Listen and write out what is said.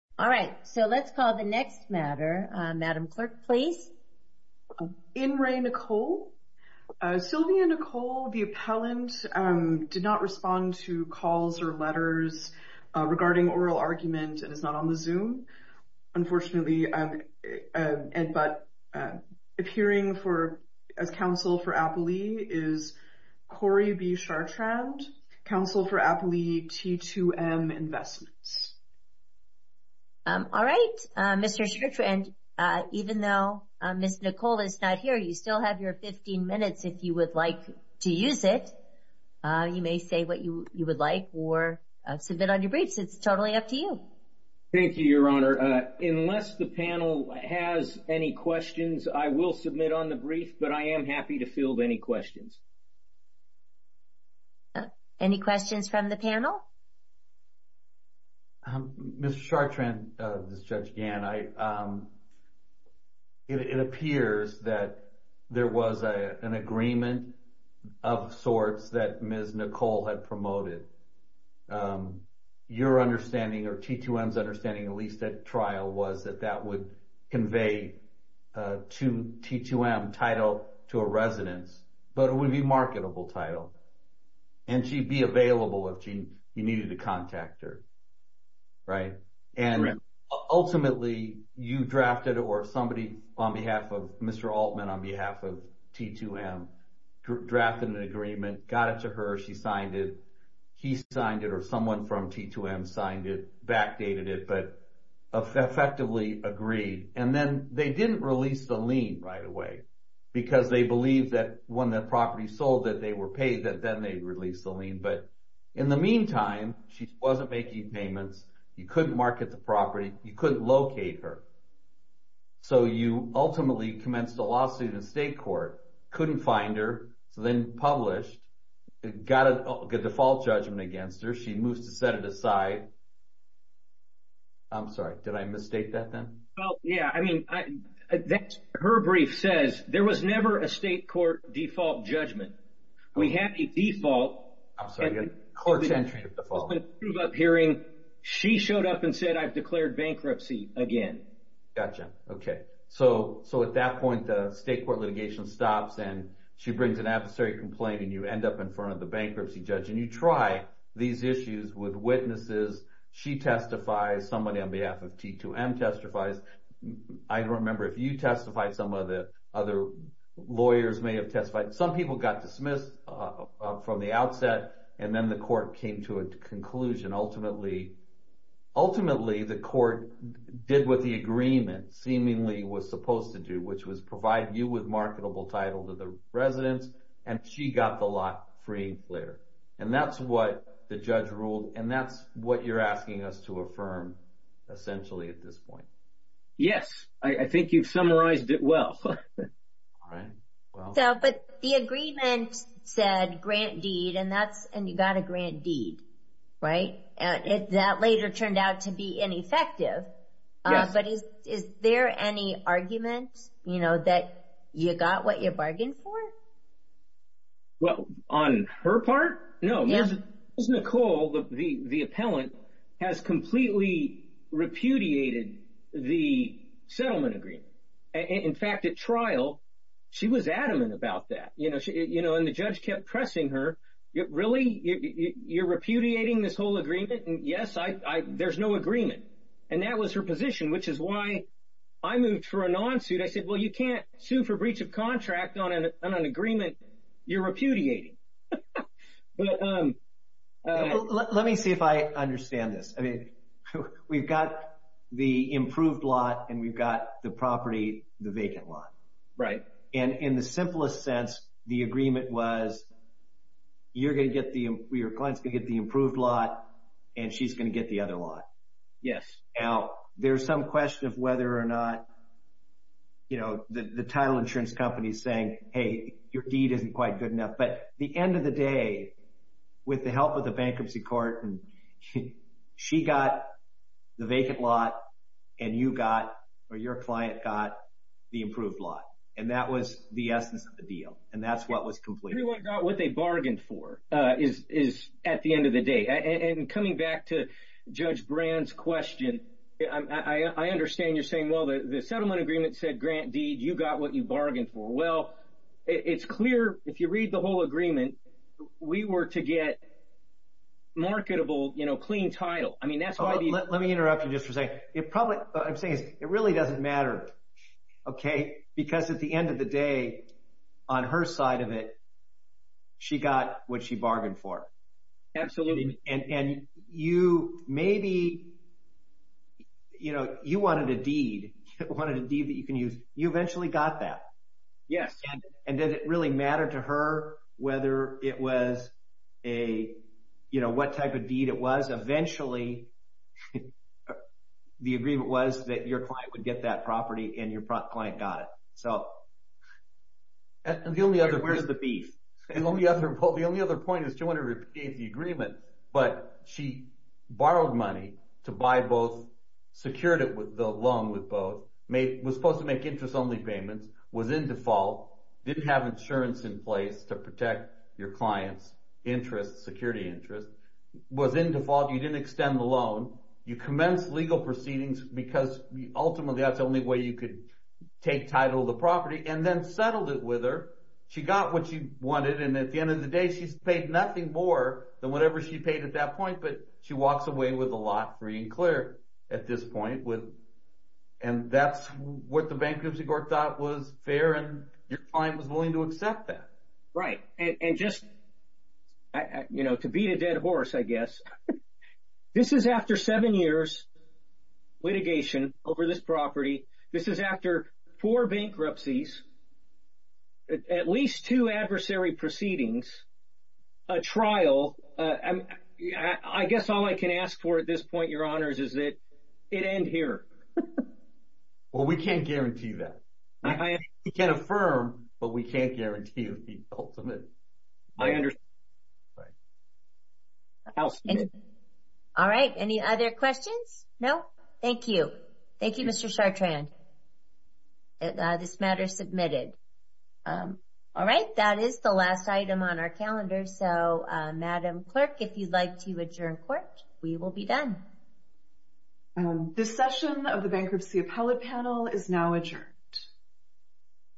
All right, so let's call the next matter. Madam Clerk, please. In re, Nicole. Sylvia Nicole, the appellant, did not respond to calls or letters regarding oral argument and is not on the Zoom, unfortunately. But appearing for as counsel for Appley is Corey B. Chartrand, counsel for Appley T2M Investments. All right, Mr. Chartrand, even though Ms. Nicole is not here, you still have your 15 minutes if you would like to use it. You may say what you would like or submit on your briefs. It's totally up to you. Thank you, Your Honor. Unless the panel has any questions, I will submit on the brief, but I am happy to field any questions. Any questions from the panel? Mr. Chartrand, this is Judge Gann. It appears that there was an agreement of sorts that Ms. Nicole had promoted. Your understanding or T2M's understanding, at least at trial, was that that would convey to T2M title to a residence, but it would be marketable title. And she'd be available if you needed to contact her, right? And ultimately, you drafted or somebody on behalf of Mr. Altman, on behalf of T2M, drafted an agreement, got it to her, she signed it, he signed it, or someone from T2M signed it, backdated it, but effectively agreed. And then they didn't release the lien right away because they believed that when the property sold that they were paid, that then they'd release the lien. But in the meantime, she wasn't making payments, you couldn't market the property, you couldn't locate her. So you ultimately commenced a lawsuit in state court, couldn't find her, so then published, got a default judgment against her, she moves to set it aside. I'm sorry, did I mistake that then? Well, yeah, I mean, that's, her brief says, there was never a state court default judgment. We had a default. I'm sorry, court's entry default. She showed up and said, I've declared bankruptcy again. Gotcha, okay. So at that point, the state court litigation stops and she brings an adversary complaint and you end up in front of the bankruptcy judge and you try these issues with witnesses, she testifies, somebody on behalf of T2M testifies. I don't remember if you testified, some of the other lawyers may have testified. Some people got dismissed from the outset, and then the court came to a conclusion. Ultimately, the court did what the agreement seemingly was supposed to do, which was provide you with marketable title to the residents, and she got the lot free later. And that's what the judge ruled, and that's what you're asking us to affirm essentially at this point. Yes, I think you've summarized it well. But the agreement said grant deed, and you got a grant deed, right? And that later turned out to be ineffective, but is there any argument that you got what you bargained for? Well, on her part, no. Ms. Nicole, the appellant, has completely repudiated the settlement agreement. In fact, at trial, she was adamant about that. And the judge kept pressing her, really? You're repudiating this whole agreement? And yes, there's no agreement. And that was her position, which is why I moved for a non-suit. I said, well, you can't sue for breach of contract on an agreement you're repudiating. Let me see if I understand this. We've got the improved lot, and we've got the property, the vacant lot. And in the simplest sense, the agreement was, your client's going to get the improved lot, and she's going to get the other lot. Now, there's some question of whether or not you know, the title insurance company is saying, hey, your deed isn't quite good enough. But the end of the day, with the help of the bankruptcy court, she got the vacant lot, and you got, or your client got, the improved lot. And that was the essence of the deal, and that's what was completed. Everyone got what they bargained for, is at the end of the day. And coming back to Judge Brand's question, I understand you're saying, the settlement agreement said grant deed, you got what you bargained for. Well, it's clear, if you read the whole agreement, we were to get marketable, you know, clean title. Let me interrupt you just for a second. It probably, what I'm saying is, it really doesn't matter, okay? Because at the end of the day, on her side of it, she got what she bargained for. Absolutely. And you, maybe, you know, you wanted a deed, you wanted a deed that you can use. You eventually got that. Yes. And did it really matter to her whether it was a, you know, what type of deed it was? Eventually, the agreement was that your client would get that property, and your client got it. So. And the only other. Where's the beef? And the only other point is, she wanted to repeat the agreement, but she borrowed money to buy both, secured it with the loan with both, was supposed to make interest-only payments, was in default, didn't have insurance in place to protect your client's interest, security interest, was in default, you didn't extend the loan, you commenced legal proceedings, because ultimately, that's the only way you could take title of the property, and then settled it with her. She got what she wanted, and at the end of the day, she's paid nothing more than whatever she paid at that point, but she walks away with a lot free and clear at this point. And that's what the bankruptcy court thought was fair, and your client was willing to accept that. Right. And just, you know, to beat a dead horse, I guess, this is after seven years, litigation over this property, this is after four bankruptcies, at least two adversary proceedings, a trial, I guess all I can ask for at this point, your honors, is that it end here. Well, we can't guarantee that. I can't affirm, but we can't guarantee the ultimate. I understand. All right. Any other questions? No? Thank you. Thank you, Mr. Chartrand. This matter is submitted. All right. That is the last item on our calendar. So, Madam Clerk, if you'd like to adjourn court, we will be done. Thank you. This session of the Bankruptcy Appellate Panel is now adjourned.